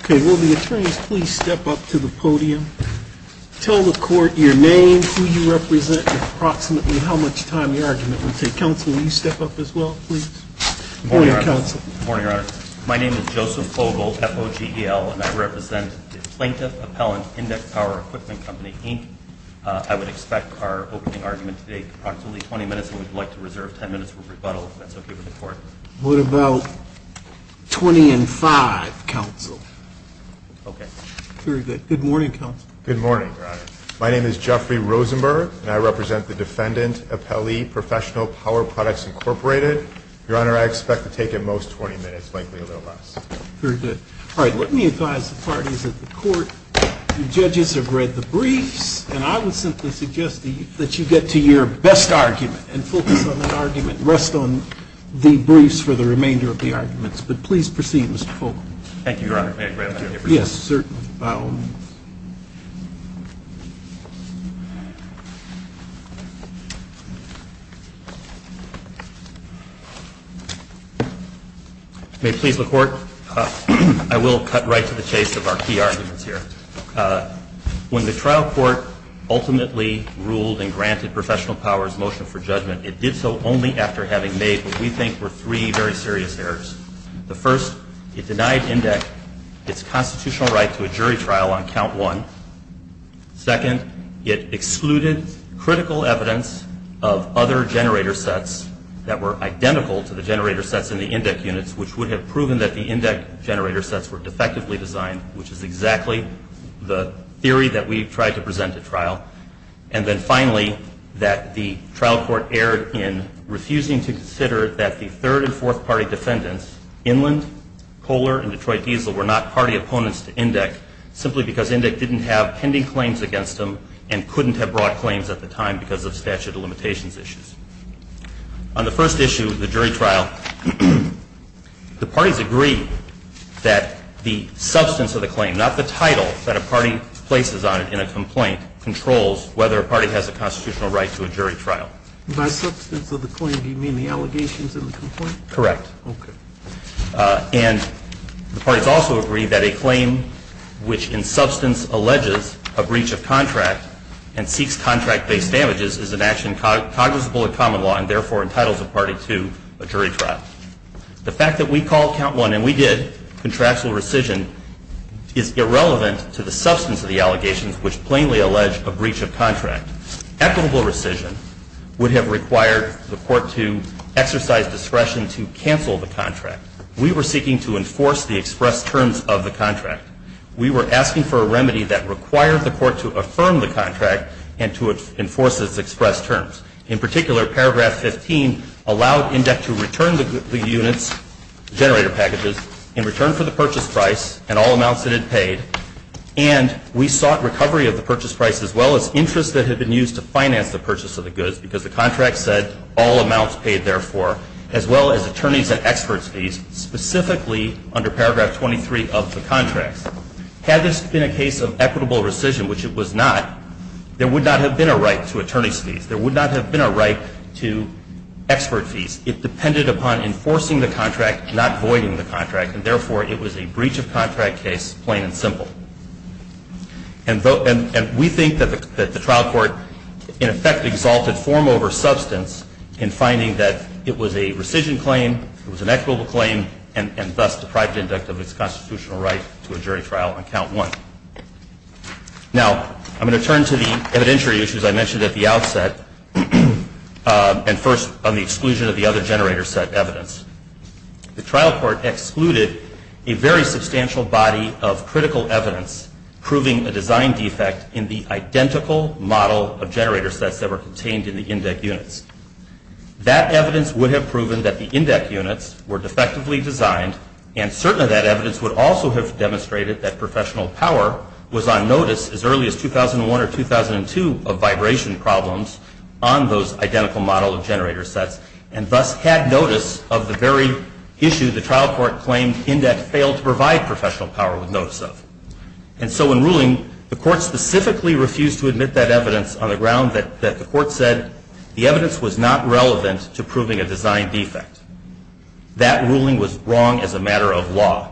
Okay, will the attorneys please step up to the podium. Tell the court your name, who you represent, and approximately how much time the argument will take. Counsel, will you step up as well, please? Good morning, Your Honor. My name is Joseph Vogel, F-O-G-E-L, and I represent the Plaintiff Appellant, Indeck Power Equipment Company, Inc. I would expect our opening argument to take approximately 20 minutes, and we'd like to reserve 10 minutes for rebuttal, if that's okay with the court. What about 20 and 5, Counsel? Okay. Very good. Good morning, Counsel. Good morning, Your Honor. My name is Jeffrey Rosenberg, and I represent the Defendant Appellee, Professional Power Products, Inc. Your Honor, I expect to take at most 20 minutes, likely a little less. Very good. All right, let me advise the parties at the court. The judges have read the briefs, and I would simply suggest that you get to your best argument and focus on that argument, rest on the briefs for the remainder of the arguments. But please proceed, Mr. Vogel. Thank you, Your Honor. May I grab that paper? Yes, certainly. Mr. Baum. May it please the Court? I will cut right to the chase of our key arguments here. When the trial court ultimately ruled and granted Professional Power's motion for judgment, it did so only after having made what we think were three very serious errors. The first, it denied INDEC its constitutional right to a jury trial on count one. Second, it excluded critical evidence of other generator sets that were identical to the generator sets in the INDEC units, which would have proven that the INDEC generator sets were defectively designed, which is exactly the theory that we tried to present at trial. And then finally, that the trial court erred in refusing to consider that the third and fourth party defendants, Inland, Kohler, and Detroit Diesel, were not party opponents to INDEC, simply because INDEC didn't have pending claims against them and couldn't have brought claims at the time because of statute of limitations issues. On the first issue, the jury trial, the parties agreed that the substance of the claim, not the title that a party places on it in a complaint, controls whether a party has a constitutional right to a jury trial. By substance of the claim, do you mean the allegations in the complaint? Correct. Okay. And the parties also agreed that a claim which in substance alleges a breach of contract and seeks contract-based damages is an action cognizable in common law and therefore entitles a party to a jury trial. The fact that we called count one and we did, contractual rescission, is irrelevant to the substance of the allegations which plainly allege a breach of contract. Equitable rescission would have required the court to exercise discretion to cancel the contract. We were seeking to enforce the express terms of the contract. We were asking for a remedy that required the court to affirm the contract and to enforce its express terms. In particular, paragraph 15 allowed INDEC to return the units, generator packages, in return for the purchase price and all amounts that it paid. And we sought recovery of the purchase price as well as interest that had been used to finance the purchase of the goods because the contract said all amounts paid therefore, as well as attorney's and expert's fees, specifically under paragraph 23 of the contract. Had this been a case of equitable rescission, which it was not, there would not have been a right to attorney's fees. There would not have been a right to expert fees. It depended upon enforcing the contract, not voiding the contract. And therefore, it was a breach of contract case, plain and simple. And we think that the trial court, in effect, exalted form over substance in finding that it was a rescission claim, it was an equitable claim, and thus deprived INDEC of its constitutional right to a jury trial on count one. Now, I'm going to turn to the evidentiary issues I mentioned at the outset. And first, on the exclusion of the other generator set evidence. The trial court excluded a very substantial body of critical evidence proving a design defect in the identical model of generator sets that were contained in the INDEC units. That evidence would have proven that the INDEC units were defectively designed and certainly that evidence would also have demonstrated that professional power was on notice as early as 2001 or 2002 of vibration problems on those identical model of generator sets and thus had notice of the very issue the trial court claimed INDEC failed to provide professional power with notice of. And so in ruling, the court specifically refused to admit that evidence on the ground that the court said the evidence was not relevant to proving a design defect. That ruling was wrong as a matter of law.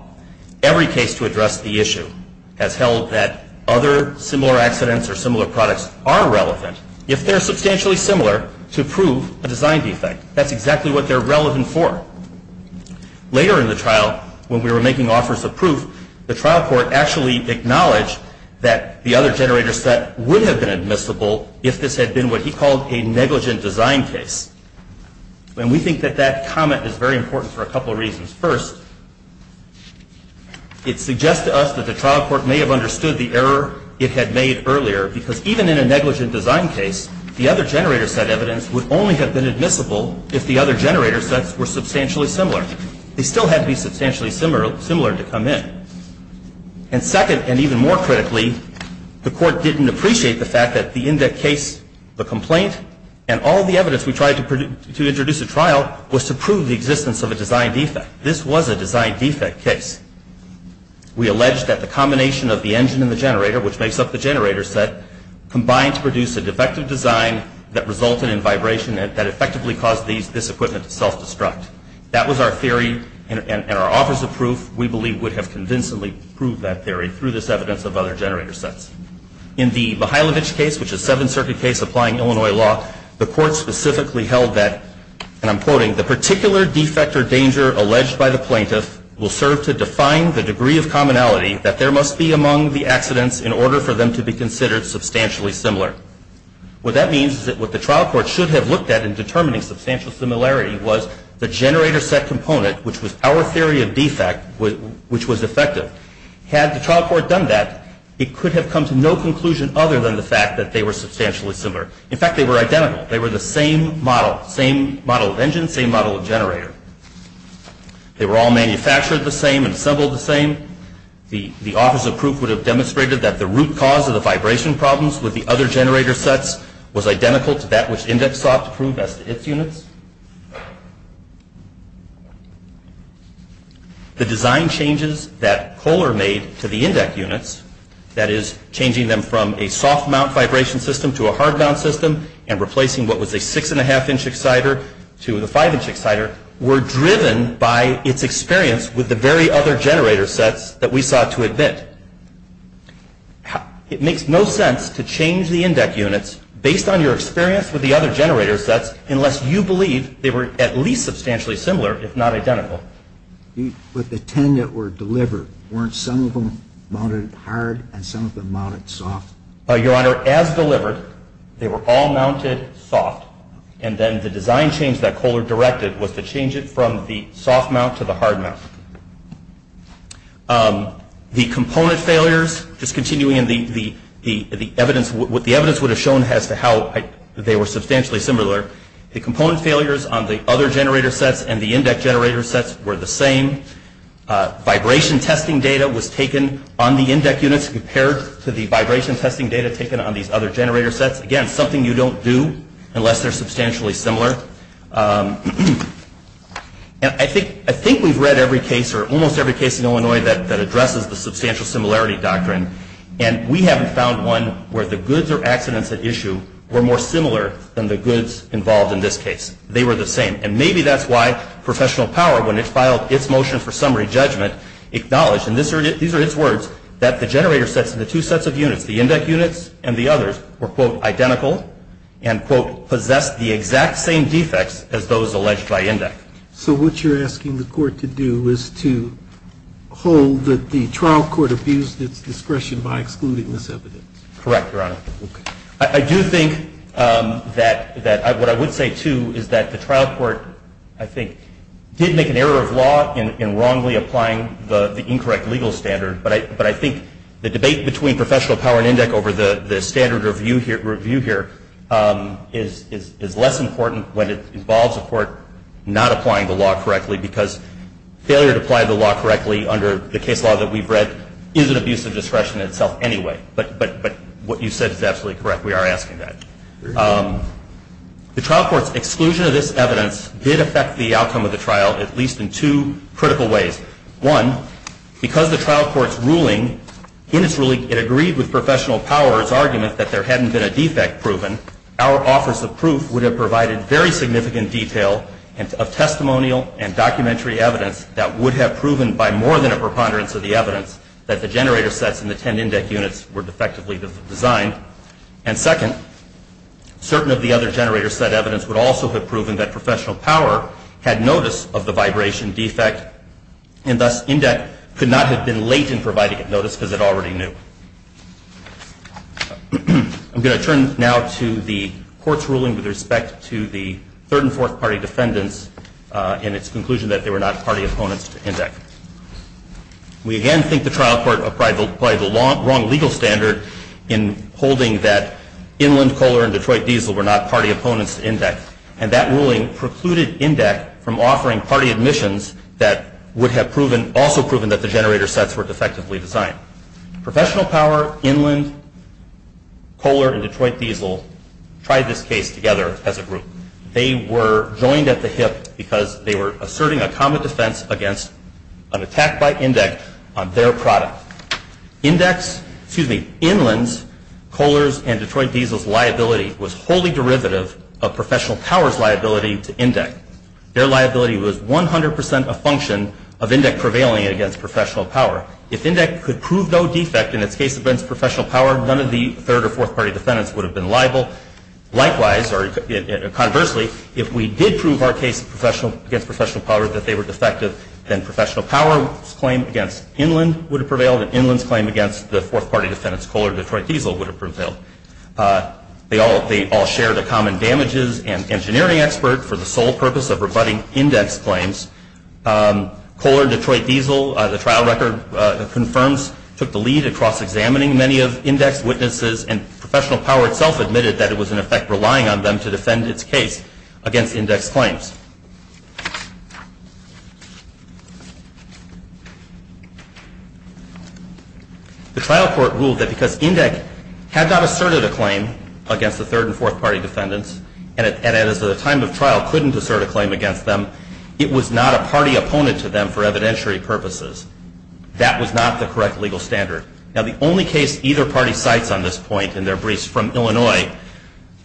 Every case to address the issue has held that other similar accidents or similar products are relevant if they're substantially similar to prove a design defect. That's exactly what they're relevant for. Later in the trial, when we were making offers of proof, the trial court actually acknowledged that the other generator set would have been admissible if this had been what he called a negligent design case. And we think that that comment is very important for a couple of reasons. First, it suggests to us that the trial court may have understood the error it had made earlier because even in a negligent design case, the other generator set evidence would only have been admissible if the other generator sets were substantially similar. They still had to be substantially similar to come in. And second, and even more critically, the court didn't appreciate the fact that the INDEC case, the complaint, and all the evidence we tried to introduce at trial was to prove the existence of a design defect. This was a design defect case. We alleged that the combination of the engine and the generator, which makes up the generator set, combined to produce a defective design that resulted in vibration that effectively caused this equipment to self-destruct. That was our theory, and our offers of proof, we believe, would have convincingly proved that theory through this evidence of other generator sets. In the Mihailovich case, which is a Seventh Circuit case applying Illinois law, the court specifically held that, and I'm quoting, the particular defect or danger alleged by the plaintiff will serve to define the degree of commonality that there must be among the accidents in order for them to be considered substantially similar. What that means is that what the trial court should have looked at in determining substantial similarity was the generator set component, which was our theory of defect, which was effective. Had the trial court done that, it could have come to no conclusion other than the fact that they were substantially similar. In fact, they were identical. They were the same model, same model of engine, same model of generator. They were all manufactured the same and assembled the same. The offers of proof would have demonstrated that the root cause of the vibration problems with the other generator sets was identical to that which INDEX sought to prove as to its units. The design changes that Kohler made to the INDEX units, that is changing them from a soft mount vibration system to a hard mount system and replacing what was a six and a half inch exciter to the five inch exciter, were driven by its experience with the very other generator sets that we sought to admit. It makes no sense to change the INDEX units based on your experience with the other generator sets unless you believe they were at least substantially similar, if not identical. With the ten that were delivered, weren't some of them mounted hard and some of them mounted soft? Your Honor, as delivered, they were all mounted soft, and then the design change that Kohler directed was to change it from the soft mount to the hard mount. The component failures, just continuing in the evidence, what the evidence would have shown as to how they were substantially similar, the component failures on the other generator sets and the INDEX generator sets were the same. Vibration testing data was taken on the INDEX units compared to the vibration testing data taken on these other generator sets. Again, something you don't do unless they're substantially similar. I think we've read every case or almost every case in Illinois that addresses the substantial similarity doctrine, and we haven't found one where the goods or accidents at issue were more similar than the goods involved in this case. They were the same. And maybe that's why professional power, when it filed its motion for summary judgment, acknowledged, and these are its words, that the generator sets and the two sets of units, the INDEX units and the others, were, quote, identical, and, quote, possessed the exact same defects as those alleged by INDEX. So what you're asking the court to do is to hold that the trial court abused its discretion by excluding this evidence. Correct, Your Honor. Okay. I do think that what I would say, too, is that the trial court, I think, did make an error of law in wrongly applying the incorrect legal standard, but I think the debate between professional power and INDEX over the standard review here is less important when it involves a court not applying the law correctly, because failure to apply the law correctly under the case law that we've read is an abuse of discretion itself anyway. But what you said is absolutely correct. We are asking that. The trial court's exclusion of this evidence did affect the outcome of the trial, at least in two critical ways. One, because the trial court's ruling, in its ruling, it agreed with professional power's argument that there hadn't been a defect proven. Our offers of proof would have provided very significant detail of testimonial and documentary evidence that would have proven by more than a preponderance of the evidence that the generator sets and the 10 INDEX units were defectively designed. And second, certain of the other generator set evidence would also have proven that professional power had notice of the vibration defect, and thus INDEX could not have been late in providing it notice because it already knew. I'm going to turn now to the court's ruling with respect to the third and fourth party defendants in its conclusion that they were not party opponents to INDEX. We again think the trial court applied the wrong legal standard in holding that Inland Kohler and Detroit Diesel were not party opponents to INDEX, and that ruling precluded INDEX from offering party admissions that would have also proven that the generator sets were defectively designed. Professional power, Inland Kohler, and Detroit Diesel tried this case together as a group. They were joined at the hip because they were asserting a common defense against an attack by INDEX on their product. INDEX, excuse me, Inland's, Kohler's, and Detroit Diesel's liability was wholly derivative of professional power's liability to INDEX. Their liability was 100% a function of INDEX prevailing against professional power. If INDEX could prove no defect in its case against professional power, none of the third or fourth party defendants would have been liable. Likewise, or conversely, if we did prove our case against professional power that they were defective, then professional power's claim against Inland would have prevailed, and Inland's claim against the fourth party defendants, Kohler and Detroit Diesel, would have prevailed. They all shared a common damages and engineering expert for the sole purpose of rebutting INDEX claims. Kohler and Detroit Diesel, the trial record confirms, took the lead across examining many of INDEX's witnesses, and professional power itself admitted that it was in effect relying on them to defend its case against INDEX claims. The trial court ruled that because INDEX had not asserted a claim against the third and fourth party defendants, and at a time of trial couldn't assert a claim against them, it was not a party opponent to them for evidentiary purposes. That was not the correct legal standard. Now, the only case either party cites on this point in their briefs from Illinois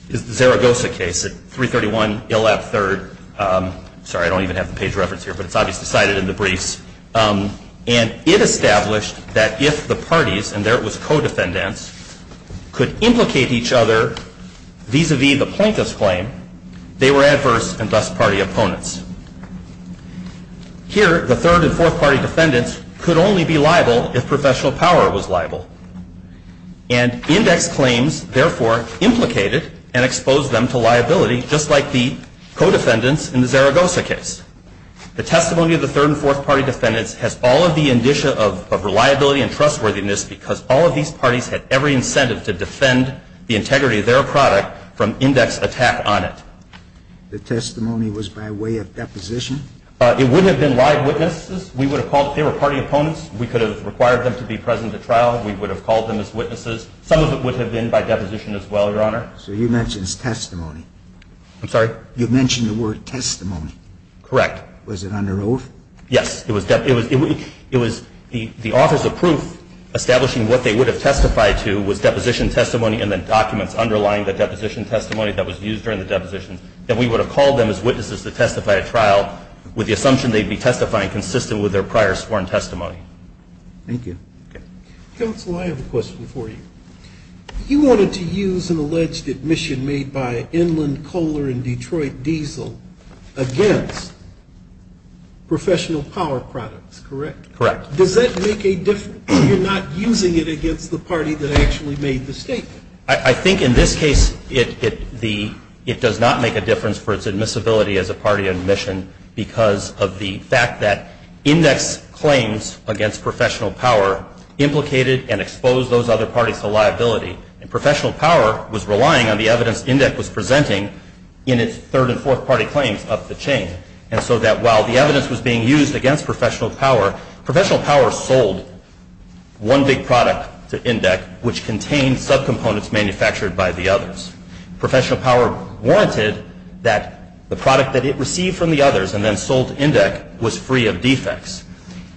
is the Zaragoza case at 331 ILAP 3rd, sorry, I don't even have the page reference here, but it's obviously cited in the briefs, and it established that if the parties, and there it was co-defendants, could implicate each other vis-a-vis the Plinkus claim, they were adverse and thus party opponents. Here, the third and fourth party defendants could only be liable if professional power was liable, and INDEX claims therefore implicated and exposed them to liability, just like the co-defendants in the Zaragoza case. The testimony of the third and fourth party defendants has all of the indicia of reliability and trustworthiness because all of these parties had every incentive to defend the integrity of their product from INDEX attack on it. The testimony was by way of deposition? It would have been live witnesses. We would have called if they were party opponents. We could have required them to be present at trial. We would have called them as witnesses. Some of it would have been by deposition as well, Your Honor. So you mentioned testimony. I'm sorry? You mentioned the word testimony. Correct. Was it under oath? Yes. It was the office of proof establishing what they would have testified to was deposition testimony and then documents underlying the deposition testimony that was used during the deposition, that we would have called them as witnesses to testify at trial with the assumption they would be testifying consistent with their prior sworn testimony. Thank you. Counsel, I have a question for you. You wanted to use an alleged admission made by Inland Kohler and Detroit Diesel against professional power products, correct? Correct. Does that make a difference? You're not using it against the party that actually made the statement. I think in this case it does not make a difference for its admissibility as a party admission because of the fact that INDEX claims against professional power implicated and exposed those other parties to liability. And professional power was relying on the evidence INDEX was presenting in its third and fourth party claims up the chain. And so that while the evidence was being used against professional power, professional power sold one big product to INDEX, which contained subcomponents manufactured by the others. Professional power warranted that the product that it received from the others and then sold to INDEX was free of defects.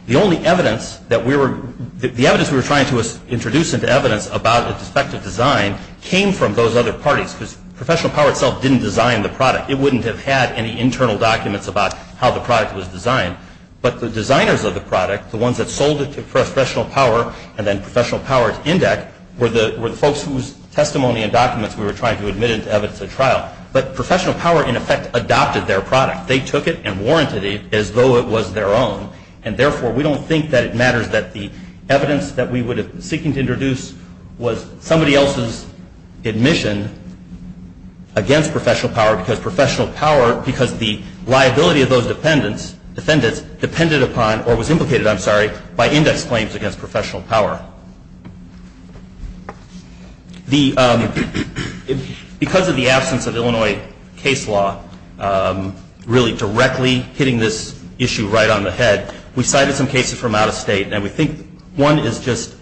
The only evidence that we were – the evidence we were trying to introduce into evidence about its effective design came from those other parties because professional power itself didn't design the product. It wouldn't have had any internal documents about how the product was designed. But the designers of the product, the ones that sold it to professional power and then professional power to INDEX were the folks whose testimony and documents we were trying to admit into evidence at trial. But professional power, in effect, adopted their product. They took it and warranted it as though it was their own. And therefore, we don't think that it matters that the evidence that we would have been seeking to introduce was somebody else's admission against professional power because professional power – because the liability of those defendants depended upon or was implicated, I'm sorry, by INDEX claims against professional power. The – because of the absence of Illinois case law, really directly hitting this issue right on the head, we cited some cases from out of state. And we think one is just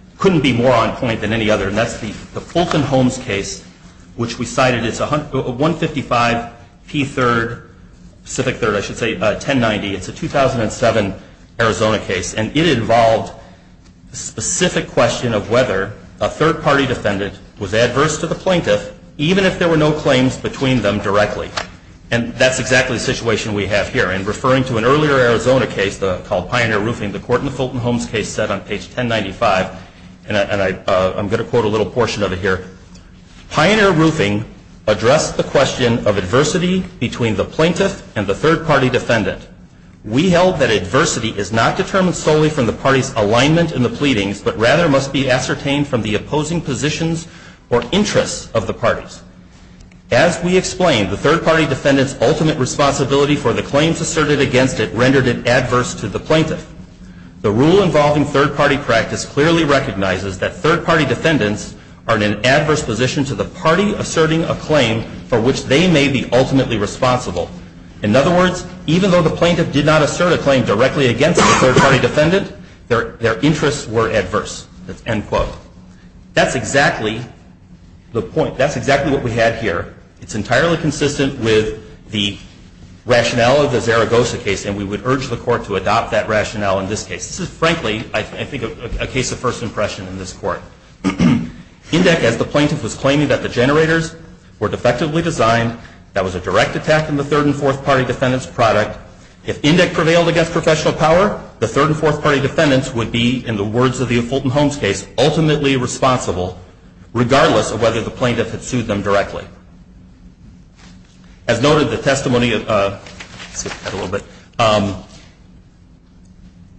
– couldn't be more on point than any other, and that's the Fulton Holmes case which we cited. It's 155 P3rd – Pacific 3rd, I should say – 1090. It's a 2007 Arizona case. And it involved a specific question of whether a third-party defendant was adverse to the plaintiff even if there were no claims between them directly. And that's exactly the situation we have here. In referring to an earlier Arizona case called Pioneer Roofing, the court in the Fulton Holmes case said on page 1095 – and I'm going to quote a little portion of it here – Pioneer Roofing addressed the question of adversity between the plaintiff and the third-party defendant. We held that adversity is not determined solely from the party's alignment in the pleadings, but rather must be ascertained from the opposing positions or interests of the parties. As we explained, the third-party defendant's ultimate responsibility for the claims asserted against it rendered it adverse to the plaintiff. The rule involving third-party practice clearly recognizes that third-party defendants are in an adverse position to the party asserting a claim for which they may be ultimately responsible. In other words, even though the plaintiff did not assert a claim directly against the third-party defendant, their interests were adverse. That's exactly the point. That's exactly what we had here. It's entirely consistent with the rationale of the Zaragoza case, and we would urge the court to adopt that rationale in this case. This is frankly, I think, a case of first impression in this court. Indyk, as the plaintiff was claiming that the generators were defectively designed, that was a direct attack on the third- and fourth-party defendant's product. If Indyk prevailed against professional power, the third- and fourth-party defendants would be, in the words of the Fulton Holmes case, ultimately responsible, regardless of whether the plaintiff had sued them directly. As noted, the testimony of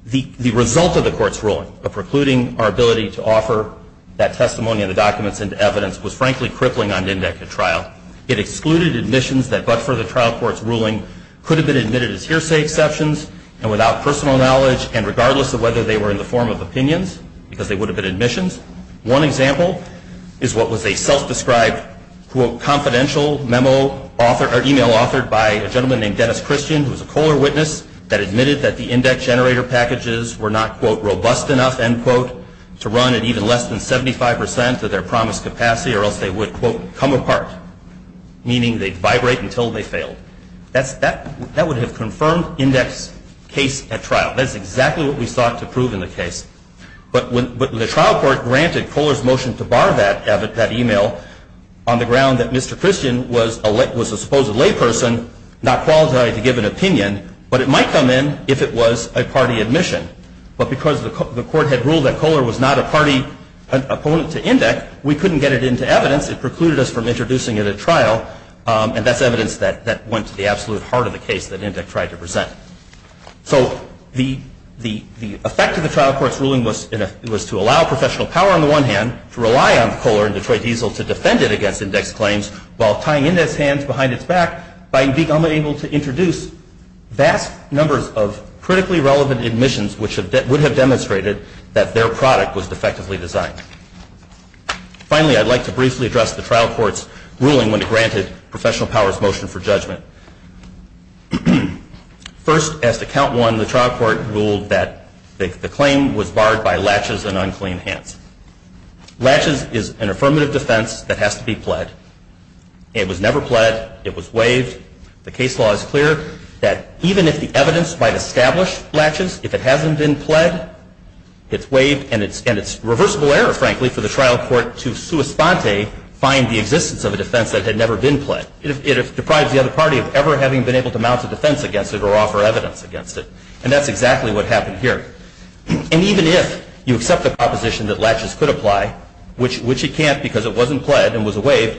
the result of the court's ruling of precluding our ability to offer that testimony and the documents into evidence was frankly crippling on Indyk at trial. It excluded admissions that, but for the trial court's ruling, could have been admitted as hearsay exceptions and without personal knowledge and regardless of whether they were in the form of opinions, because they would have been admissions. One example is what was a self-described, quote, confidential memo author or email authored by a gentleman named Dennis Christian, who was a Kohler witness, that admitted that the Indyk generator packages were not, quote, robust enough, end quote, to run at even less than 75 percent of their promised capacity or else they would, quote, come apart, meaning they'd vibrate until they failed. That would have confirmed Indyk's case at trial. That's exactly what we sought to prove in the case. But the trial court granted Kohler's motion to bar that email on the ground that Mr. Christian was a supposed layperson, not qualified to give an opinion, but it might come in if it was a party admission. But because the court had ruled that Kohler was not a party opponent to Indyk, we couldn't get it into evidence. It precluded us from introducing it at trial, and that's evidence that went to the absolute heart of the case that Indyk tried to present. So the effect of the trial court's ruling was to allow professional power on the one hand to rely on Kohler and Detroit Diesel to defend it against Indyk's claims while tying Indyk's hands behind its back by being unable to introduce vast numbers of critically relevant admissions which would have demonstrated that their product was defectively designed. Finally, I'd like to briefly address the trial court's ruling when it granted professional power's motion for judgment. First, as to Count 1, the trial court ruled that the claim was barred by latches and unclean hands. Latches is an affirmative defense that has to be pled. It was never pled. It was waived. The case law is clear that even if the evidence might establish latches, if it hasn't been pled, it's waived, and it's reversible error, frankly, for the trial court to sua sponte find the existence of a defense that had never been pled. It deprives the other party of ever having been able to mount a defense against it or offer evidence against it, and that's exactly what happened here. And even if you accept the proposition that latches could apply, which it can't because it wasn't pled and was waived,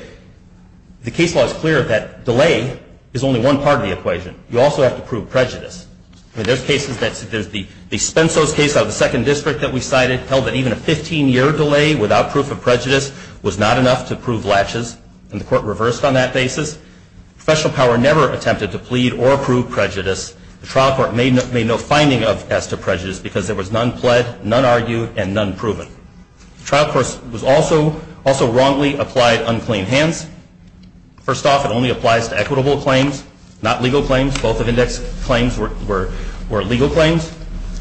the case law is clear that delay is only one part of the equation. You also have to prove prejudice. I mean, there's cases that there's the Spenzos case out of the second district that we cited held that even a 15-year delay without proof of prejudice was not enough to prove latches, and the court reversed on that basis. Professional power never attempted to plead or prove prejudice. The trial court made no finding as to prejudice because there was none pled, none argued, and none proven. The trial court also wrongly applied unclean hands. First off, it only applies to equitable claims, not legal claims. Both of the next claims were legal claims.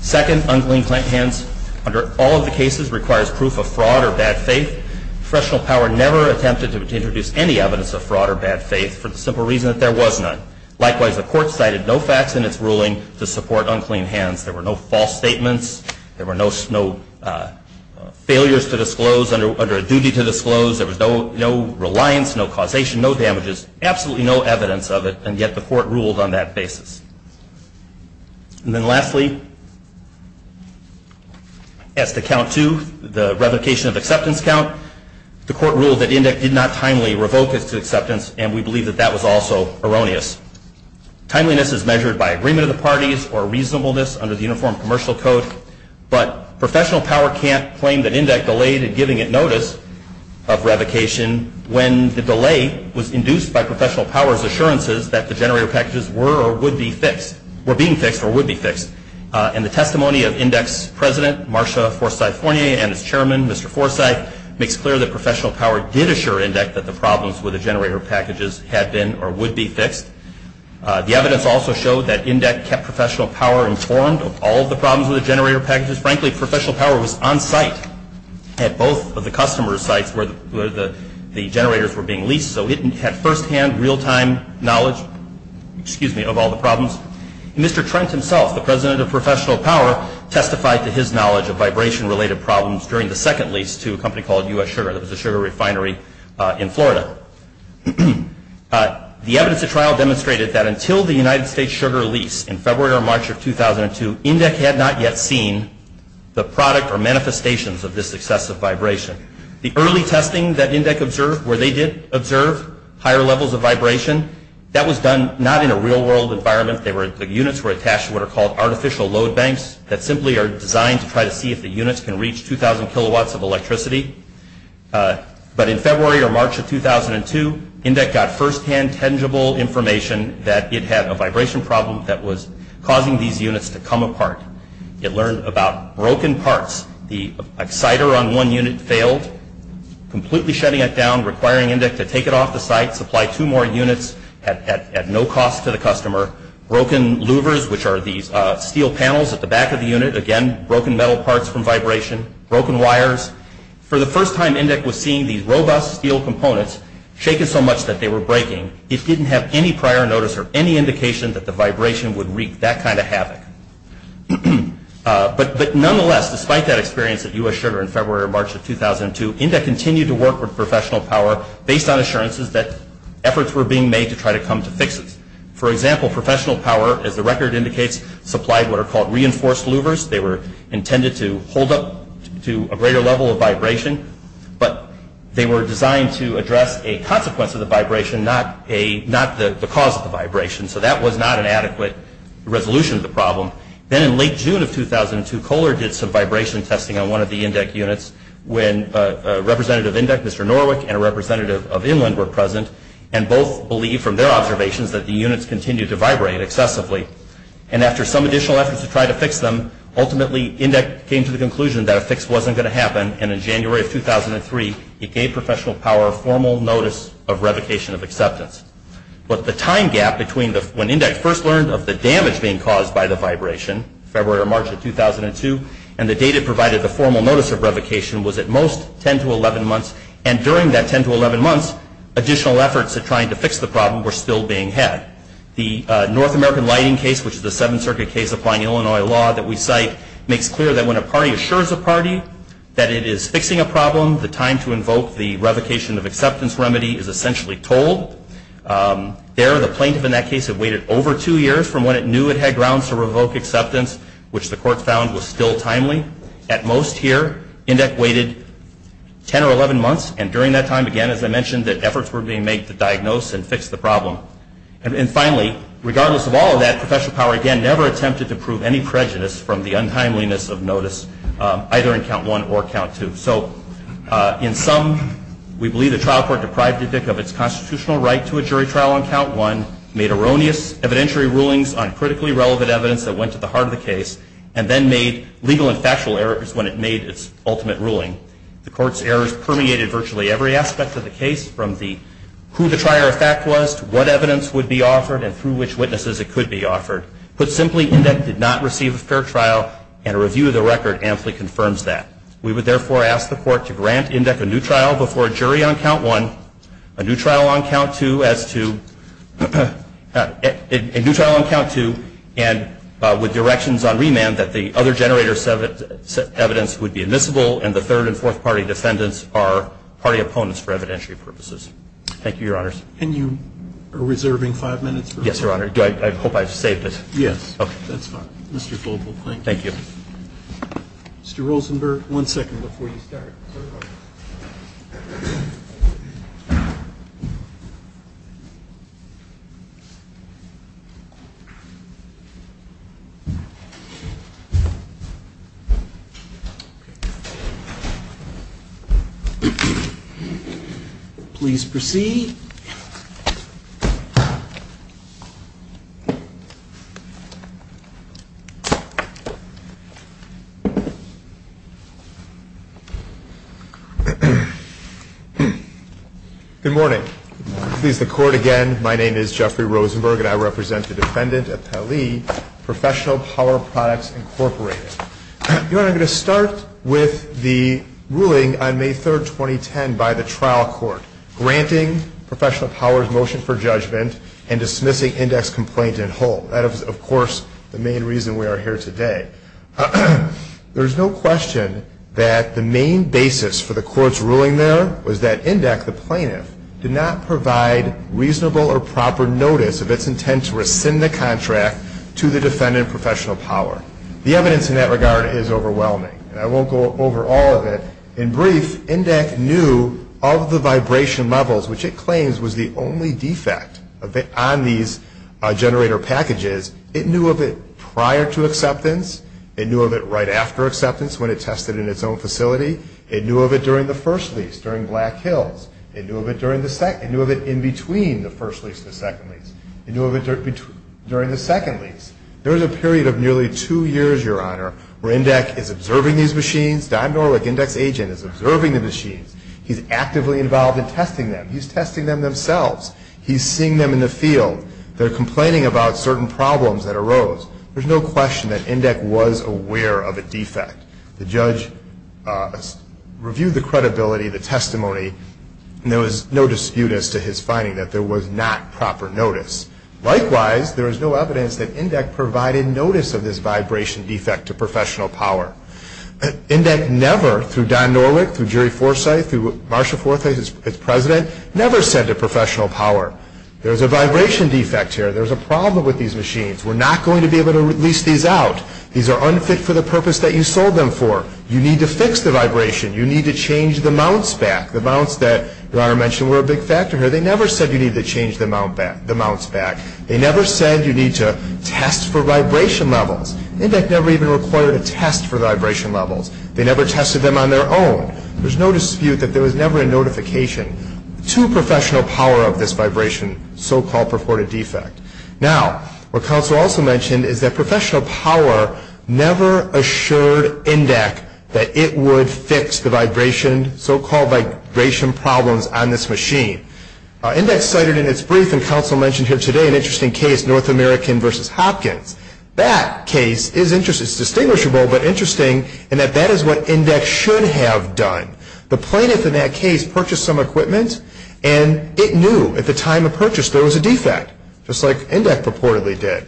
Second, unclean hands under all of the cases requires proof of fraud or bad faith. Professional power never attempted to introduce any evidence of fraud or bad faith for the simple reason that there was none. Likewise, the court cited no facts in its ruling to support unclean hands. There were no false statements. There were no failures to disclose under a duty to disclose. There was no reliance, no causation, no damages, absolutely no evidence of it, and yet the court ruled on that basis. And then lastly, as to count two, the revocation of acceptance count, the court ruled that INDIC did not timely revoke its acceptance, and we believe that that was also erroneous. Timeliness is measured by agreement of the parties or reasonableness under the Uniform Commercial Code, but professional power can't claim that INDIC delayed in giving it notice of revocation when the delay was induced by professional power's assurances that the generator packages were or would be fixed, were being fixed or would be fixed. In the testimony of INDIC's president, Marsha Forsythe-Fournier, and its chairman, Mr. Forsythe, makes clear that professional power did assure INDIC that the problems with the generator packages had been or would be fixed. The evidence also showed that INDIC kept professional power informed of all the problems with the generator packages. Frankly, professional power was on site at both of the customer sites where the generators were being leased, so it had firsthand real-time knowledge of all the problems. Mr. Trent himself, the president of professional power, testified to his knowledge of vibration-related problems during the second lease to a company called U.S. Sugar that was a sugar refinery in Florida. The evidence at trial demonstrated that until the United States Sugar lease in February or March of 2002, INDIC had not yet seen the product or manifestations of this excessive vibration. The early testing that INDIC observed where they did observe higher levels of vibration, that was done not in a real-world environment. The units were attached to what are called artificial load banks that simply are designed to try to see if the units can reach 2,000 kilowatts of electricity. But in February or March of 2002, INDIC got firsthand tangible information that it had a vibration problem that was causing these units to come apart. It learned about broken parts. The exciter on one unit failed, completely shutting it down, requiring INDIC to take it off the site, supply two more units at no cost to the customer, broken louvers, which are these steel panels at the back of the unit, again, broken metal parts from vibration, broken wires. For the first time, INDIC was seeing these robust steel components shaken so much that they were breaking. It didn't have any prior notice or any indication that the vibration would wreak that kind of havoc. But nonetheless, despite that experience at U.S. Sugar in February or March of 2002, INDIC continued to work with professional power based on assurances that efforts were being made to try to come to fixes. For example, professional power, as the record indicates, supplied what are called reinforced louvers. They were intended to hold up to a greater level of vibration, but they were designed to address a consequence of the vibration, not the cause of the vibration. So that was not an adequate resolution of the problem. Then in late June of 2002, Kohler did some vibration testing on one of the INDIC units when Representative INDIC, Mr. Norwick, and a representative of Inland were present, and both believed from their observations that the units continued to vibrate excessively. And after some additional efforts to try to fix them, ultimately INDIC came to the conclusion that a fix wasn't going to happen, and in January of 2003, it gave professional power formal notice of revocation of acceptance. But the time gap between when INDIC first learned of the damage being caused by the vibration, February or March of 2002, and the date it provided the formal notice of revocation was at most 10 to 11 months. And during that 10 to 11 months, additional efforts at trying to fix the problem were still being had. The North American Lighting case, which is a Seventh Circuit case applying Illinois law that we cite, makes clear that when a party assures a party that it is fixing a problem, the time to invoke the revocation of acceptance remedy is essentially told. There, the plaintiff in that case had waited over two years from when it knew it had grounds to revoke acceptance, which the court found was still timely. At most here, INDIC waited 10 or 11 months. And during that time, again, as I mentioned, the efforts were being made to diagnose and fix the problem. And finally, regardless of all of that, professional power, again, never attempted to prove any prejudice from the untimeliness of notice, either in Count 1 or Count 2. So in sum, we believe the trial court deprived INDIC of its constitutional right to a jury trial on Count 1, made erroneous evidentiary rulings on critically relevant evidence that went to the heart of the case, and then made legal and factual errors when it made its ultimate ruling. The court's errors permeated virtually every aspect of the case, from who the trier of fact was to what evidence would be offered and through which witnesses it could be offered. Put simply, INDIC did not receive a fair trial, and a review of the record amply confirms that. We would therefore ask the court to grant INDIC a new trial before a jury on Count 1, a new trial on Count 2, and with directions on remand that the other generator evidence would be admissible, and the third and fourth party defendants are party opponents for evidentiary purposes. Thank you, Your Honors. And you are reserving five minutes? Yes, Your Honor. I hope I've saved it. Yes. Okay. That's fine. Mr. Global, thank you. Thank you. Mr. Rosenberg, one second before you start. Okay. Please proceed. Good morning. Good morning. Please, the court again. My name is Jeffrey Rosenberg, and I represent the defendant, Appellee Professional Power Products, Incorporated. Your Honor, I'm going to start with the ruling on May 3, 2010, by the trial court, granting Professional Power's motion for judgment and dismissing INDIC's complaint in whole. That is, of course, the main reason we are here today. There is no question that the main basis for the court's ruling there was that INDIC, the plaintiff, did not provide reasonable or proper notice of its intent to rescind the contract to the defendant, Professional Power. The evidence in that regard is overwhelming, and I won't go over all of it. In brief, INDIC knew of the vibration levels, which it claims was the only defect on these generator packages. It knew of it prior to acceptance. It knew of it right after acceptance when it tested in its own facility. It knew of it during the first lease, during Black Hills. It knew of it in between the first lease and the second lease. It knew of it during the second lease. There was a period of nearly two years, Your Honor, where INDIC is observing these machines. Don Norwick, INDIC's agent, is observing the machines. He's actively involved in testing them. He's testing them themselves. He's seeing them in the field. They're complaining about certain problems that arose. There's no question that INDIC was aware of a defect. The judge reviewed the credibility of the testimony, and there was no dispute as to his finding that there was not proper notice. Likewise, there is no evidence that INDIC provided notice of this vibration defect to Professional Power. INDIC never, through Don Norwick, through Jerry Forsythe, through Marsha Forsythe, its president, never said to Professional Power, There's a vibration defect here. There's a problem with these machines. We're not going to be able to release these out. These are unfit for the purpose that you sold them for. You need to fix the vibration. You need to change the mounts back. The mounts that Your Honor mentioned were a big factor here. They never said you need to change the mounts back. They never said you need to test for vibration levels. INDIC never even required a test for vibration levels. They never tested them on their own. There's no dispute that there was never a notification to Professional Power of this vibration, so-called purported defect. Now, what Counsel also mentioned is that Professional Power never assured INDIC that it would fix the vibration, so-called vibration problems on this machine. INDIC cited in its brief, and Counsel mentioned here today, an interesting case, North American v. Hopkins. That case is interesting. It's distinguishable, but interesting in that that is what INDIC should have done. The plaintiff in that case purchased some equipment, and it knew at the time of purchase there was a defect, just like INDIC purportedly did.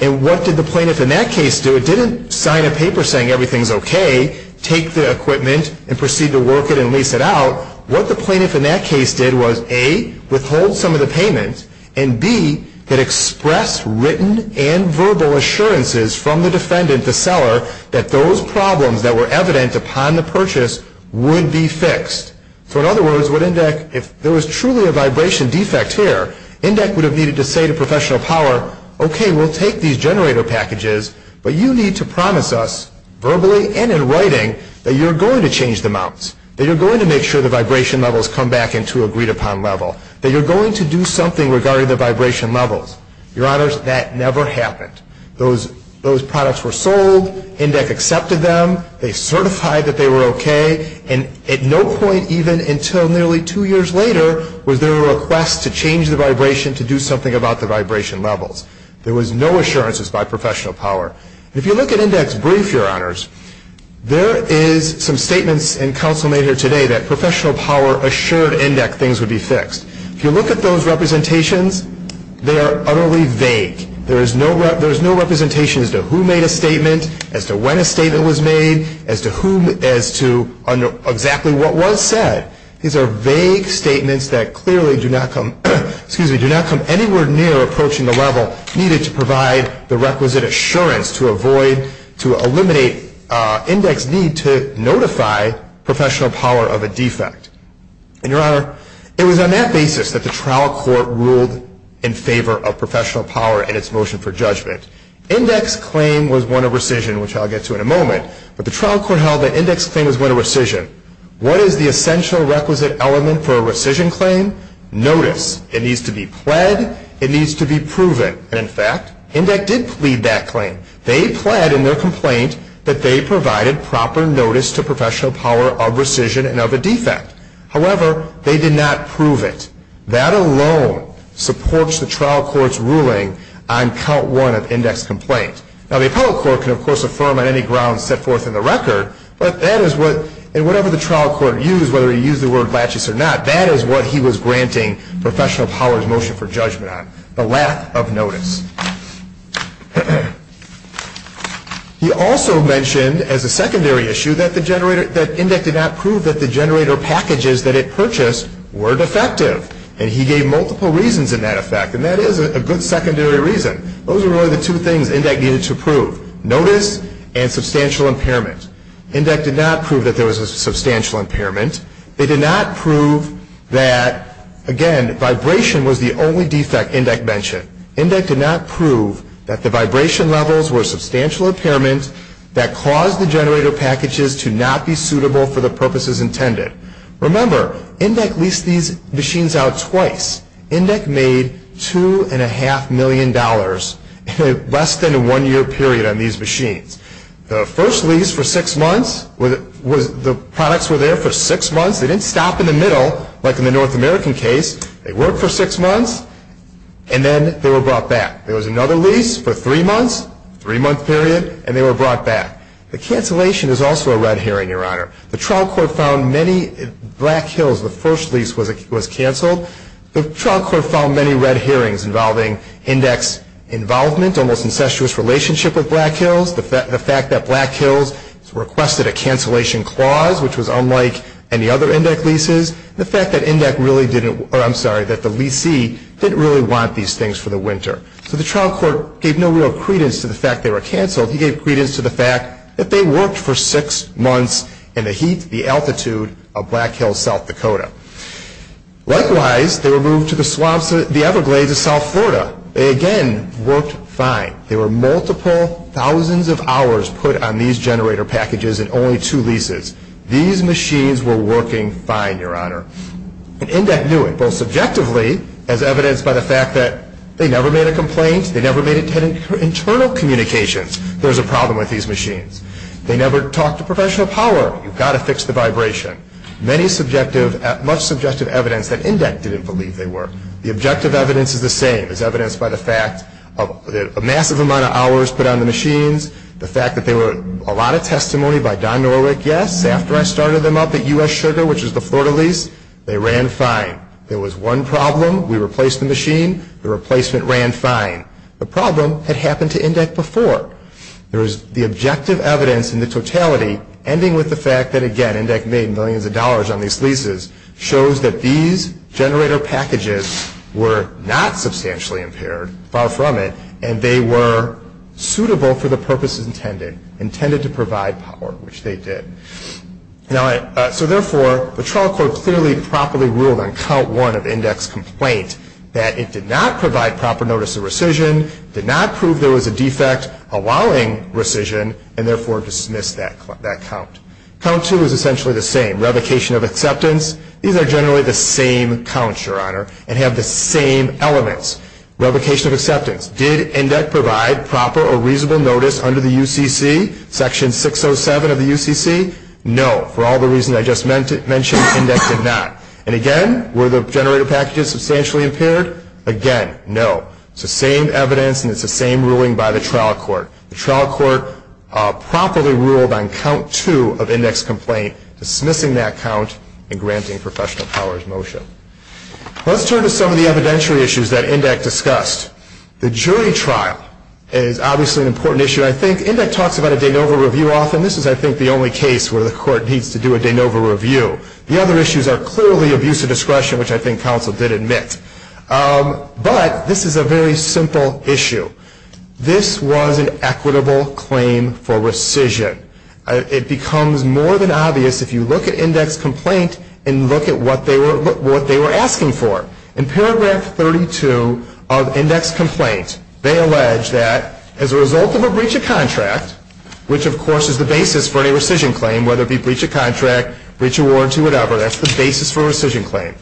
And what did the plaintiff in that case do? It didn't sign a paper saying everything's okay, take the equipment, and proceed to work it and lease it out. What the plaintiff in that case did was, A, withhold some of the payment, and, B, it expressed written and verbal assurances from the defendant, the seller, that those problems that were evident upon the purchase would be fixed. So, in other words, if there was truly a vibration defect here, INDIC would have needed to say to Professional Power, Okay, we'll take these generator packages, but you need to promise us, verbally and in writing, that you're going to change the mounts, that you're going to make sure the vibration levels come back into a agreed-upon level, that you're going to do something regarding the vibration levels. Your Honors, that never happened. Those products were sold, INDIC accepted them, they certified that they were okay, and at no point, even until nearly two years later, was there a request to change the vibration to do something about the vibration levels. There was no assurances by Professional Power. If you look at INDIC's brief, Your Honors, there is some statements and counsel made here today that Professional Power assured INDIC things would be fixed. If you look at those representations, they are utterly vague. There is no representation as to who made a statement, as to when a statement was made, as to exactly what was said. These are vague statements that clearly do not come anywhere near approaching the level needed to provide the requisite assurance to eliminate INDIC's need to notify Professional Power of a defect. And Your Honor, it was on that basis that the trial court ruled in favor of Professional Power and its motion for judgment. INDIC's claim was one of rescission, which I'll get to in a moment, but the trial court held that INDIC's claim was one of rescission. What is the essential requisite element for a rescission claim? Notice. It needs to be pled. It needs to be proven. And in fact, INDIC did plead that claim. They pled in their complaint that they provided proper notice to Professional Power of rescission and of a defect. However, they did not prove it. That alone supports the trial court's ruling on count one of INDIC's complaint. Now, the appellate court can, of course, affirm on any grounds set forth in the record, but that is what, and whatever the trial court used, whether it used the word lachis or not, that is what he was granting Professional Power's motion for judgment on, the lack of notice. He also mentioned as a secondary issue that INDIC did not prove that the generator packages that it purchased were defective. And he gave multiple reasons in that effect, and that is a good secondary reason. Those are really the two things INDIC needed to prove, notice and substantial impairment. INDIC did not prove that there was a substantial impairment. They did not prove that, again, vibration was the only defect INDIC mentioned. INDIC did not prove that the vibration levels were substantial impairment that caused the generator packages to not be suitable for the purposes intended. Remember, INDIC leased these machines out twice. INDIC made $2.5 million in less than a one-year period on these machines. The first lease for six months, the products were there for six months. They didn't stop in the middle, like in the North American case. They worked for six months, and then they were brought back. There was another lease for three months, three-month period, and they were brought back. The cancellation is also a red herring, Your Honor. The trial court found many Black Hills, the first lease was canceled. The trial court found many red herrings involving INDIC's involvement, almost incestuous relationship with Black Hills, the fact that Black Hills requested a cancellation clause, which was unlike any other INDIC leases, and the fact that INDIC really didn't, or I'm sorry, that the leasee didn't really want these things for the winter. So the trial court gave no real credence to the fact they were canceled. He gave credence to the fact that they worked for six months in the heat, the altitude of Black Hills, South Dakota. Likewise, they were moved to the swamps, the Everglades of South Florida. They again worked fine. There were multiple thousands of hours put on these generator packages and only two leases. These machines were working fine, Your Honor. And INDIC knew it, both subjectively, as evidenced by the fact that they never made a complaint, they never made internal communications. There was a problem with these machines. They never talked to professional power. You've got to fix the vibration. Much subjective evidence that INDIC didn't believe they were. The objective evidence is the same. It's evidenced by the fact that a massive amount of hours put on the machines, the fact that there were a lot of testimony by Don Norwick. Yes, after I started them up at U.S. Sugar, which is the Florida lease, they ran fine. There was one problem. We replaced the machine. The replacement ran fine. The problem had happened to INDIC before. There is the objective evidence in the totality, ending with the fact that, again, INDIC made millions of dollars on these leases, shows that these generator packages were not substantially impaired, far from it, and they were suitable for the purposes intended, intended to provide power, which they did. So, therefore, the trial court clearly and properly ruled on count one of INDIC's complaint that it did not provide proper notice of rescission, did not prove there was a defect allowing rescission, and, therefore, dismissed that count. Count two is essentially the same, revocation of acceptance. These are generally the same counts, Your Honor, and have the same elements. Revocation of acceptance, did INDIC provide proper or reasonable notice under the UCC, Section 607 of the UCC? No, for all the reasons I just mentioned, INDIC did not. And, again, were the generator packages substantially impaired? Again, no. It's the same evidence and it's the same ruling by the trial court. The trial court properly ruled on count two of INDIC's complaint, dismissing that count and granting professional powers motion. Let's turn to some of the evidentiary issues that INDIC discussed. The jury trial is obviously an important issue. I think INDIC talks about a de novo review often. This is, I think, the only case where the court needs to do a de novo review. The other issues are clearly abuse of discretion, which I think counsel did admit. But this is a very simple issue. This was an equitable claim for rescission. It becomes more than obvious if you look at INDIC's complaint and look at what they were asking for. In paragraph 32 of INDIC's complaint, they allege that as a result of a breach of contract, which, of course, is the basis for any rescission claim, whether it be breach of contract, breach of warranty, whatever, that's the basis for a rescission claim.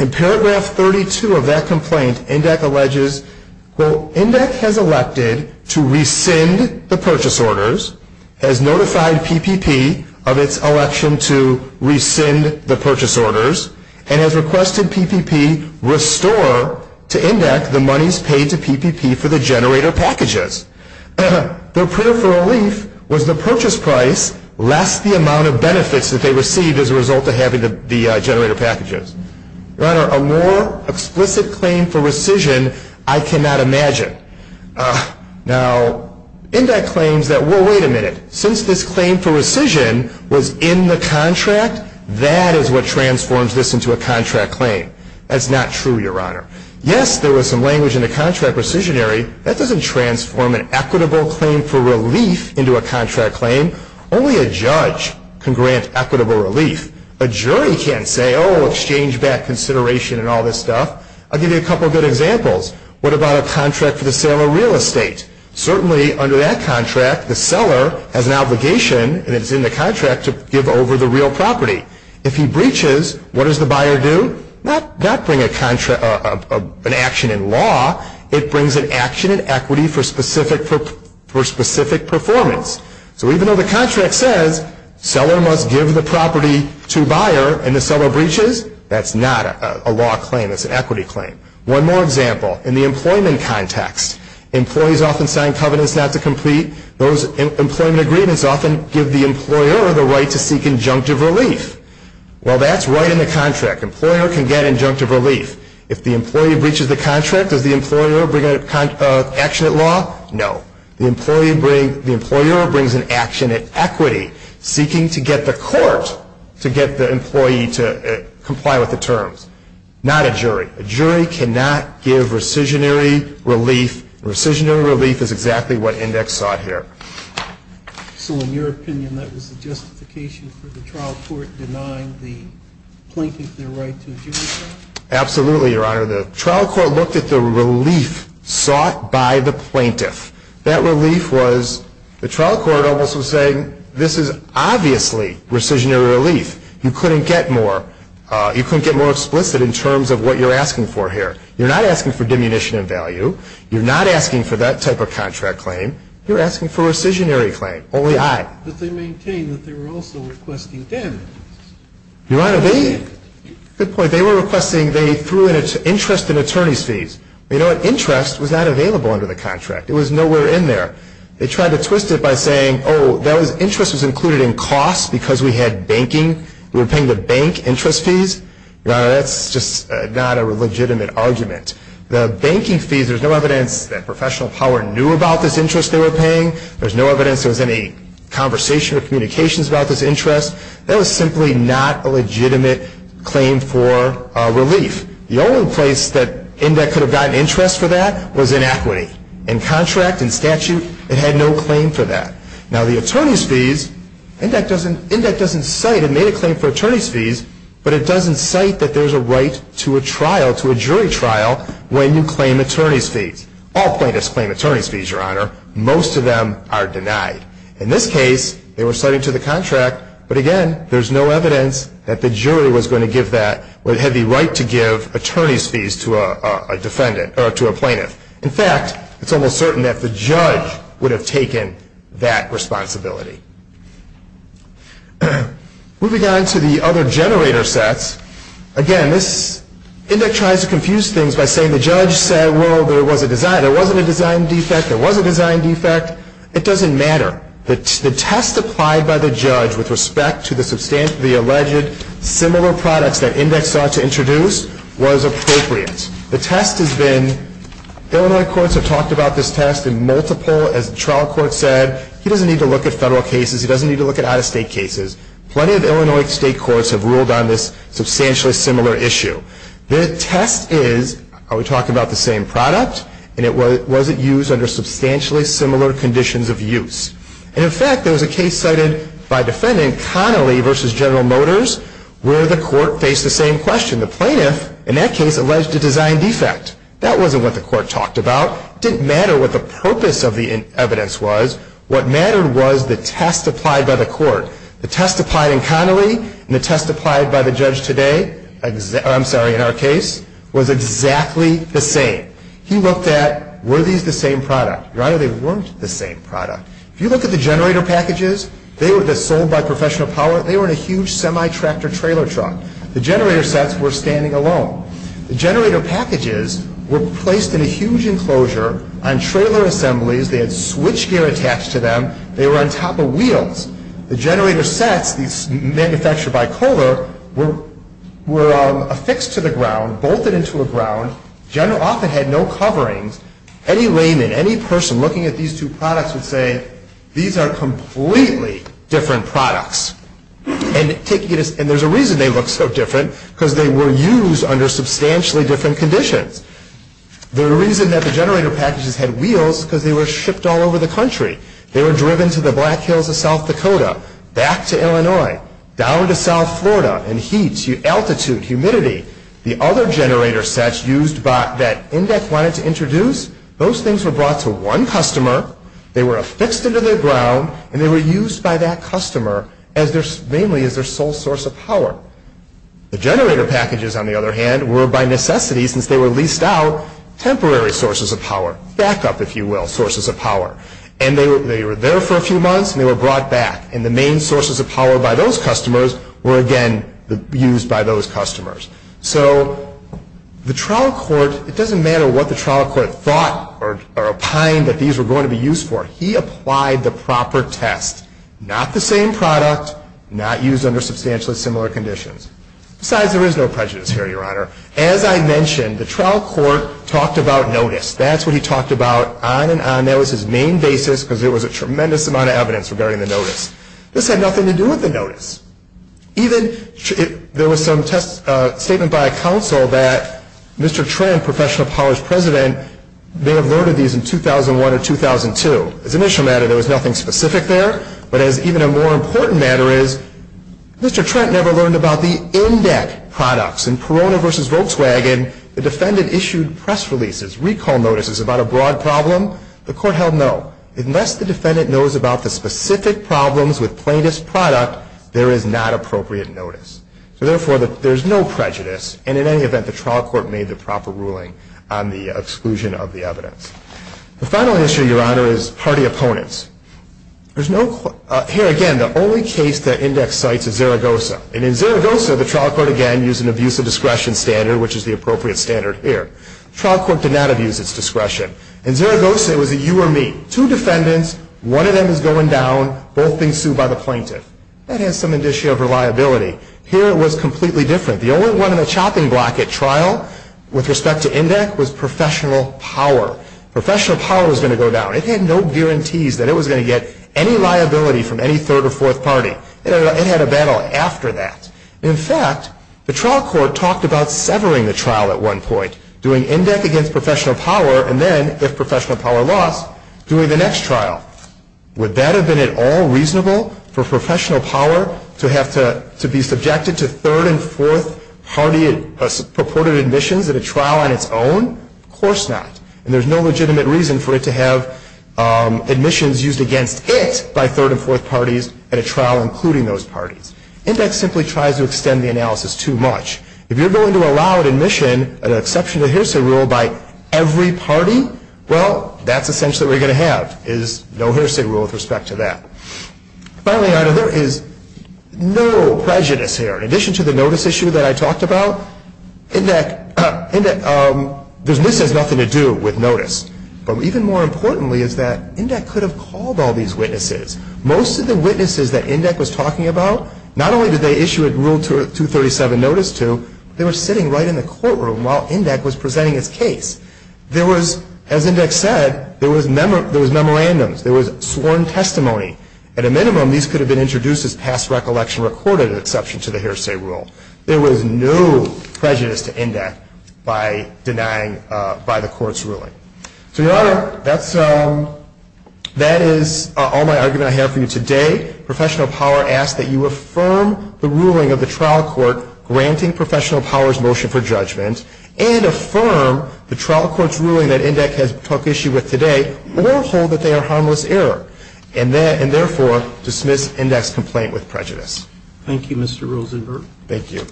In paragraph 32 of that complaint, INDIC alleges, quote, INDIC has elected to rescind the purchase orders, has notified PPP of its election to rescind the purchase orders, and has requested PPP restore to INDIC the monies paid to PPP for the generator packages. Their prayer for relief was the purchase price less the amount of benefits that they received as a result of having the generator packages. Your Honor, a more explicit claim for rescission I cannot imagine. Now, INDIC claims that, well, wait a minute. Since this claim for rescission was in the contract, that is what transforms this into a contract claim. That's not true, Your Honor. Yes, there was some language in the contract rescissionary. That doesn't transform an equitable claim for relief into a contract claim. Only a judge can grant equitable relief. A jury can't say, oh, exchange back consideration and all this stuff. I'll give you a couple of good examples. What about a contract for the sale of real estate? Certainly, under that contract, the seller has an obligation, and it's in the contract, to give over the real property. If he breaches, what does the buyer do? Not bring an action in law. It brings an action in equity for specific performance. So even though the contract says seller must give the property to buyer, and the seller breaches, that's not a law claim. It's an equity claim. One more example. In the employment context, employees often sign covenants not to complete. Those employment agreements often give the employer the right to seek injunctive relief. Well, that's right in the contract. Employer can get injunctive relief. If the employee breaches the contract, does the employer bring an action in law? No. The employer brings an action in equity, seeking to get the court to get the employee to comply with the terms. Not a jury. A jury cannot give rescissionary relief. Rescissionary relief is exactly what index sought here. So in your opinion, that was the justification for the trial court denying the plaintiff their right to a jury trial? Absolutely, Your Honor. The trial court looked at the relief sought by the plaintiff. That relief was the trial court almost was saying this is obviously rescissionary relief. You couldn't get more explicit in terms of what you're asking for here. You're not asking for diminution in value. You're not asking for that type of contract claim. You're asking for a rescissionary claim. Only I. But they maintain that they were also requesting damages. Your Honor, they? Good point. They were requesting they threw in interest and attorney's fees. You know what? Interest was not available under the contract. It was nowhere in there. They tried to twist it by saying, oh, interest was included in costs because we had banking. We were paying the bank interest fees. Your Honor, that's just not a legitimate argument. The banking fees, there's no evidence that professional power knew about this interest they were paying. There's no evidence there was any conversation or communications about this interest. That was simply not a legitimate claim for relief. The only place that INDEC could have gotten interest for that was in equity. In contract, in statute, it had no claim for that. Now, the attorney's fees, INDEC doesn't cite it made a claim for attorney's fees, but it doesn't cite that there's a right to a trial, to a jury trial, when you claim attorney's fees. All plaintiffs claim attorney's fees, Your Honor. Most of them are denied. In this case, they were citing to the contract, but, again, there's no evidence that the jury was going to give that, or had the right to give attorney's fees to a defendant, or to a plaintiff. In fact, it's almost certain that the judge would have taken that responsibility. Moving on to the other generator sets, again, this, INDEC tries to confuse things by saying the judge said, well, there was a design. There wasn't a design defect. There was a design defect. It doesn't matter. The test applied by the judge with respect to the alleged similar products that INDEC sought to introduce was appropriate. The test has been, Illinois courts have talked about this test in multiple, as the trial court said. He doesn't need to look at federal cases. He doesn't need to look at out-of-state cases. Plenty of Illinois state courts have ruled on this substantially similar issue. The test is, are we talking about the same product? And was it used under substantially similar conditions of use? And, in fact, there was a case cited by a defendant, Connolly v. General Motors, where the court faced the same question. The plaintiff, in that case, alleged a design defect. That wasn't what the court talked about. It didn't matter what the purpose of the evidence was. What mattered was the test applied by the court. The test applied in Connolly and the test applied by the judge today, I'm sorry, in our case, was exactly the same. He looked at, were these the same product? Your Honor, they weren't the same product. If you look at the generator packages, they were sold by Professional Power. They were in a huge semi-tractor trailer truck. The generator sets were standing alone. The generator packages were placed in a huge enclosure on trailer assemblies. They had switchgear attached to them. They were on top of wheels. The generator sets, these manufactured by Kohler, were affixed to the ground, bolted into a ground. General often had no coverings. Any layman, any person looking at these two products would say, these are completely different products. And there's a reason they look so different, because they were used under substantially different conditions. The reason that the generator packages had wheels is because they were shipped all over the country. They were driven to the Black Hills of South Dakota, back to Illinois, down to South Florida in heat, altitude, humidity. The other generator sets used that INDEC wanted to introduce, those things were brought to one customer. They were affixed into the ground, and they were used by that customer mainly as their sole source of power. The generator packages, on the other hand, were by necessity, since they were leased out, temporary sources of power. Backup, if you will, sources of power. And they were there for a few months, and they were brought back. And the main sources of power by those customers were again used by those customers. So the trial court, it doesn't matter what the trial court thought or opined that these were going to be used for. He applied the proper test. Not the same product, not used under substantially similar conditions. Besides, there is no prejudice here, Your Honor. As I mentioned, the trial court talked about notice. That's what he talked about on and on. That was his main basis, because there was a tremendous amount of evidence regarding the notice. This had nothing to do with the notice. There was some statement by a counsel that Mr. Trent, professional powers president, may have loaded these in 2001 or 2002. As an issue matter, there was nothing specific there. But as even a more important matter is, Mr. Trent never learned about the in-debt products. In Perona v. Volkswagen, the defendant issued press releases, recall notices about a broad problem. The court held no. Unless the defendant knows about the specific problems with plaintiff's product, there is not appropriate notice. So therefore, there is no prejudice. And in any event, the trial court made the proper ruling on the exclusion of the evidence. The final issue, Your Honor, is party opponents. Here again, the only case that index cites is Zaragoza. And in Zaragoza, the trial court again used an abuse of discretion standard, which is the appropriate standard here. The trial court did not abuse its discretion. In Zaragoza, it was a you or me. Two defendants, one of them is going down, both being sued by the plaintiff. That has some indicia of reliability. Here, it was completely different. The only one on the chopping block at trial with respect to in-debt was professional power. Professional power was going to go down. It had no guarantees that it was going to get any liability from any third or fourth party. It had a battle after that. In fact, the trial court talked about severing the trial at one point, doing in-debt against professional power, and then, if professional power lost, doing the next trial. Would that have been at all reasonable for professional power to have to be subjected to third and fourth party purported admissions at a trial on its own? Of course not. And there's no legitimate reason for it to have admissions used against it by third and fourth parties at a trial, including those parties. Index simply tries to extend the analysis too much. If you're going to allow admission, an exception to the hearsay rule, by every party, well, that's essentially what you're going to have is no hearsay rule with respect to that. Finally, there is no prejudice here. In addition to the notice issue that I talked about, this has nothing to do with notice. But even more importantly is that INDEC could have called all these witnesses. Most of the witnesses that INDEC was talking about, not only did they issue a Rule 237 notice to, they were sitting right in the courtroom while INDEC was presenting its case. There was, as INDEC said, there was memorandums. There was sworn testimony. At a minimum, these could have been introduced as past recollection recorded, an exception to the hearsay rule. There was no prejudice to INDEC by denying, by the court's ruling. So, Your Honor, that is all my argument I have for you today. Professional Power asks that you affirm the ruling of the trial court granting Professional Power's motion for judgment and affirm the trial court's ruling that INDEC has took issue with today or hold that they are harmless error and therefore dismiss INDEC's complaint with prejudice. Thank you, Mr. Rosenberg. Thank you.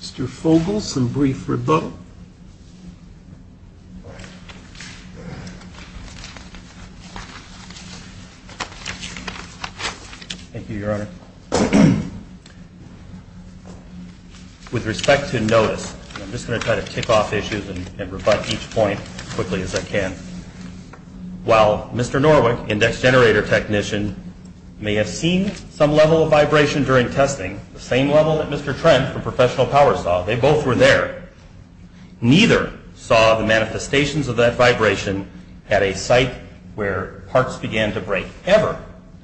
Mr. Fogle, some brief rebuttal. Thank you, Your Honor. With respect to notice, I'm just going to try to tick off issues and rebut each point as quickly as I can. While Mr. Norwick, INDEC's generator technician, may have seen some level of vibration during testing, the same level that Mr. Trent from Professional Power saw, they both were there, neither saw the manifestations of that vibration at a site where parts began to break, ever,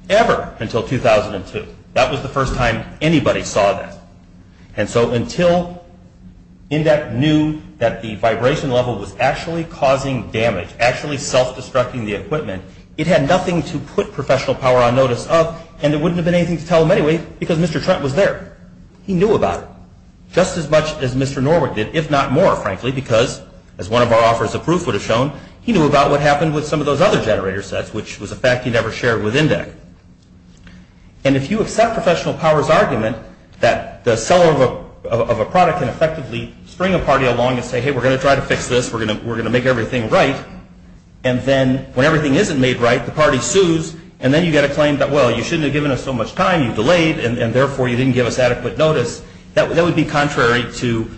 ever, until 2002. That was the first time anybody saw that. And so until INDEC knew that the vibration level was actually causing damage, actually self-destructing the equipment, it had nothing to put Professional Power on notice of, and there wouldn't have been anything to tell them anyway because Mr. Trent was there. He knew about it just as much as Mr. Norwick did, if not more, frankly, because as one of our offers of proof would have shown, he knew about what happened with some of those other generator sets, which was a fact he never shared with INDEC. And if you accept Professional Power's argument that the seller of a product can effectively spring a party along and say, hey, we're going to try to fix this, we're going to make everything right, and then when everything isn't made right, the party sues, and then you get a claim that, well, you shouldn't have given us so much time, you delayed, and, therefore, you didn't give us adequate notice, that would be contrary to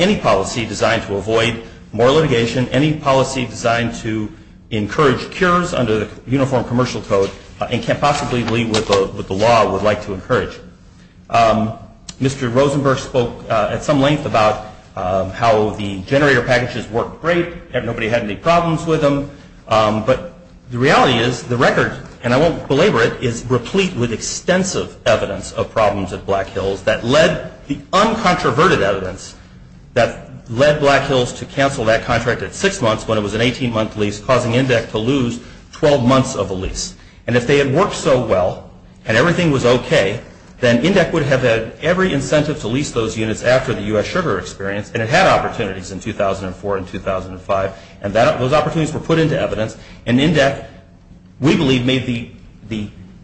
any policy designed to avoid more litigation, any policy designed to encourage cures under the Uniform Commercial Code and can't possibly lead with what the law would like to encourage. Mr. Rosenberg spoke at some length about how the generator packages worked great, nobody had any problems with them, but the reality is the record, and I won't belabor it, is replete with extensive evidence of problems at Black Hills that led the uncontroverted evidence that led Black Hills to cancel that contract at six months when it was an 18-month lease, causing INDEC to lose 12 months of the lease. And if they had worked so well and everything was okay, then INDEC would have had every incentive to lease those units after the U.S. Sugar experience, and it had opportunities in 2004 and 2005, and those opportunities were put into evidence, and INDEC, we believe, made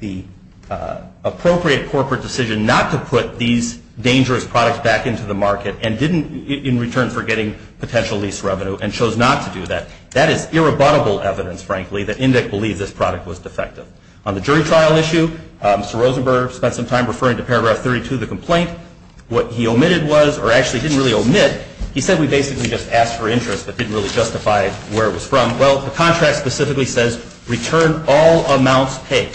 the appropriate corporate decision not to put these dangerous products back into the market in return for getting potential lease revenue and chose not to do that. That is irrebuttable evidence, frankly, that INDEC believed this product was defective. On the jury trial issue, Mr. Rosenberg spent some time referring to Paragraph 32 of the complaint. What he omitted was, or actually didn't really omit, he said we basically just asked for interest but didn't really justify where it was from. Well, the contract specifically says return all amounts paid,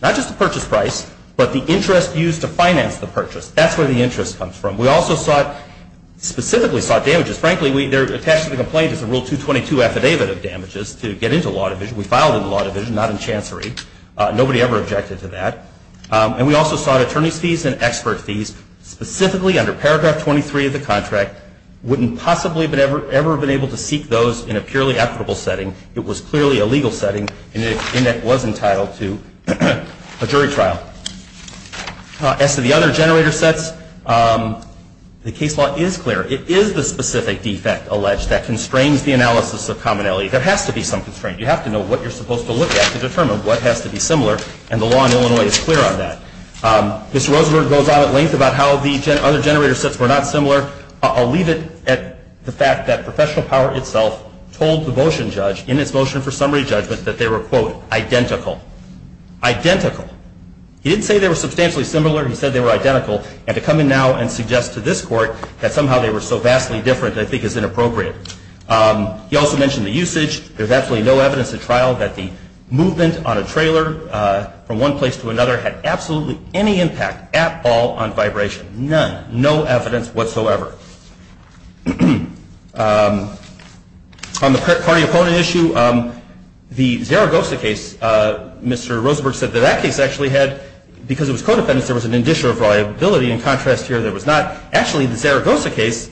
not just the purchase price, but the interest used to finance the purchase. That's where the interest comes from. We also specifically sought damages. Frankly, they're attached to the complaint as a Rule 222 affidavit of damages to get into law division. We filed in the law division, not in chancery. Nobody ever objected to that. And we also sought attorney's fees and expert fees, specifically under Paragraph 23 of the contract. Wouldn't possibly have ever been able to seek those in a purely equitable setting. It was clearly a legal setting, and INDEC was entitled to a jury trial. As to the other generator sets, the case law is clear. It is the specific defect alleged that constrains the analysis of commonality. There has to be some constraint. You have to know what you're supposed to look at to determine what has to be similar, and the law in Illinois is clear on that. Mr. Rosenberg goes on at length about how the other generator sets were not similar. I'll leave it at the fact that Professional Power itself told the motion judge, in its motion for summary judgment, that they were, quote, identical. Identical. He didn't say they were substantially similar. He said they were identical, and to come in now and suggest to this court that somehow they were so vastly different I think is inappropriate. He also mentioned the usage. There's absolutely no evidence at trial that the movement on a trailer from one place to another had absolutely any impact at all on vibration. None. No evidence whatsoever. On the party-opponent issue, the Zaragoza case, Mr. Rosenberg said that that case actually had, because it was co-defendants, there was an indicer of liability. In contrast here, there was not. Actually, the Zaragoza case,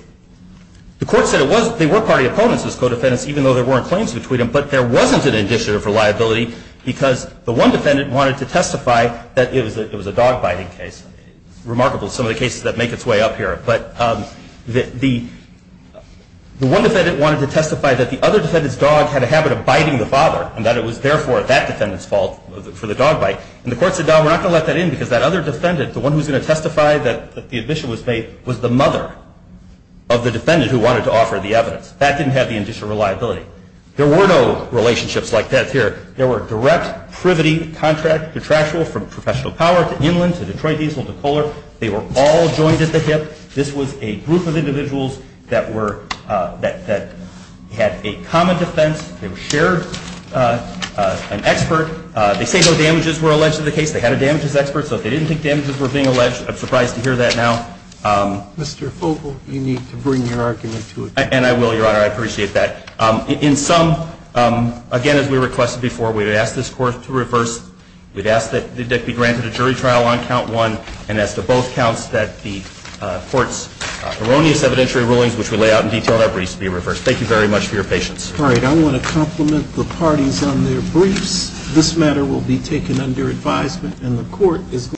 the court said they were party opponents as co-defendants, even though there weren't claims between them, but there wasn't an indicer of reliability because the one defendant wanted to testify that it was a dog-biting case. Remarkable, some of the cases that make its way up here. But the one defendant wanted to testify that the other defendant's dog had a habit of biting the father, and that it was therefore that defendant's fault for the dog bite. And the court said, no, we're not going to let that in because that other defendant, the one who's going to testify that the admission was made, was the mother of the defendant who wanted to offer the evidence. That didn't have the indicer of reliability. There were no relationships like that here. There were direct privity contract detractors from professional power to Inland to Detroit Diesel to Kohler. They were all joined at the hip. This was a group of individuals that were, that had a common defense. They shared an expert. They say no damages were alleged in the case. They had a damages expert, so if they didn't think damages were being alleged, I'm surprised to hear that now. Mr. Fogel, you need to bring your argument to a close. And I will, Your Honor. I appreciate that. In sum, again, as we requested before, we've asked this court to reverse. We've asked that the debt be granted a jury trial on count one, and as to both counts that the court's erroneous evidentiary rulings, which we lay out in detail, be reversed. Thank you very much for your patience. All right. I want to compliment the parties on their briefs. This matter will be taken under advisement, and the court is.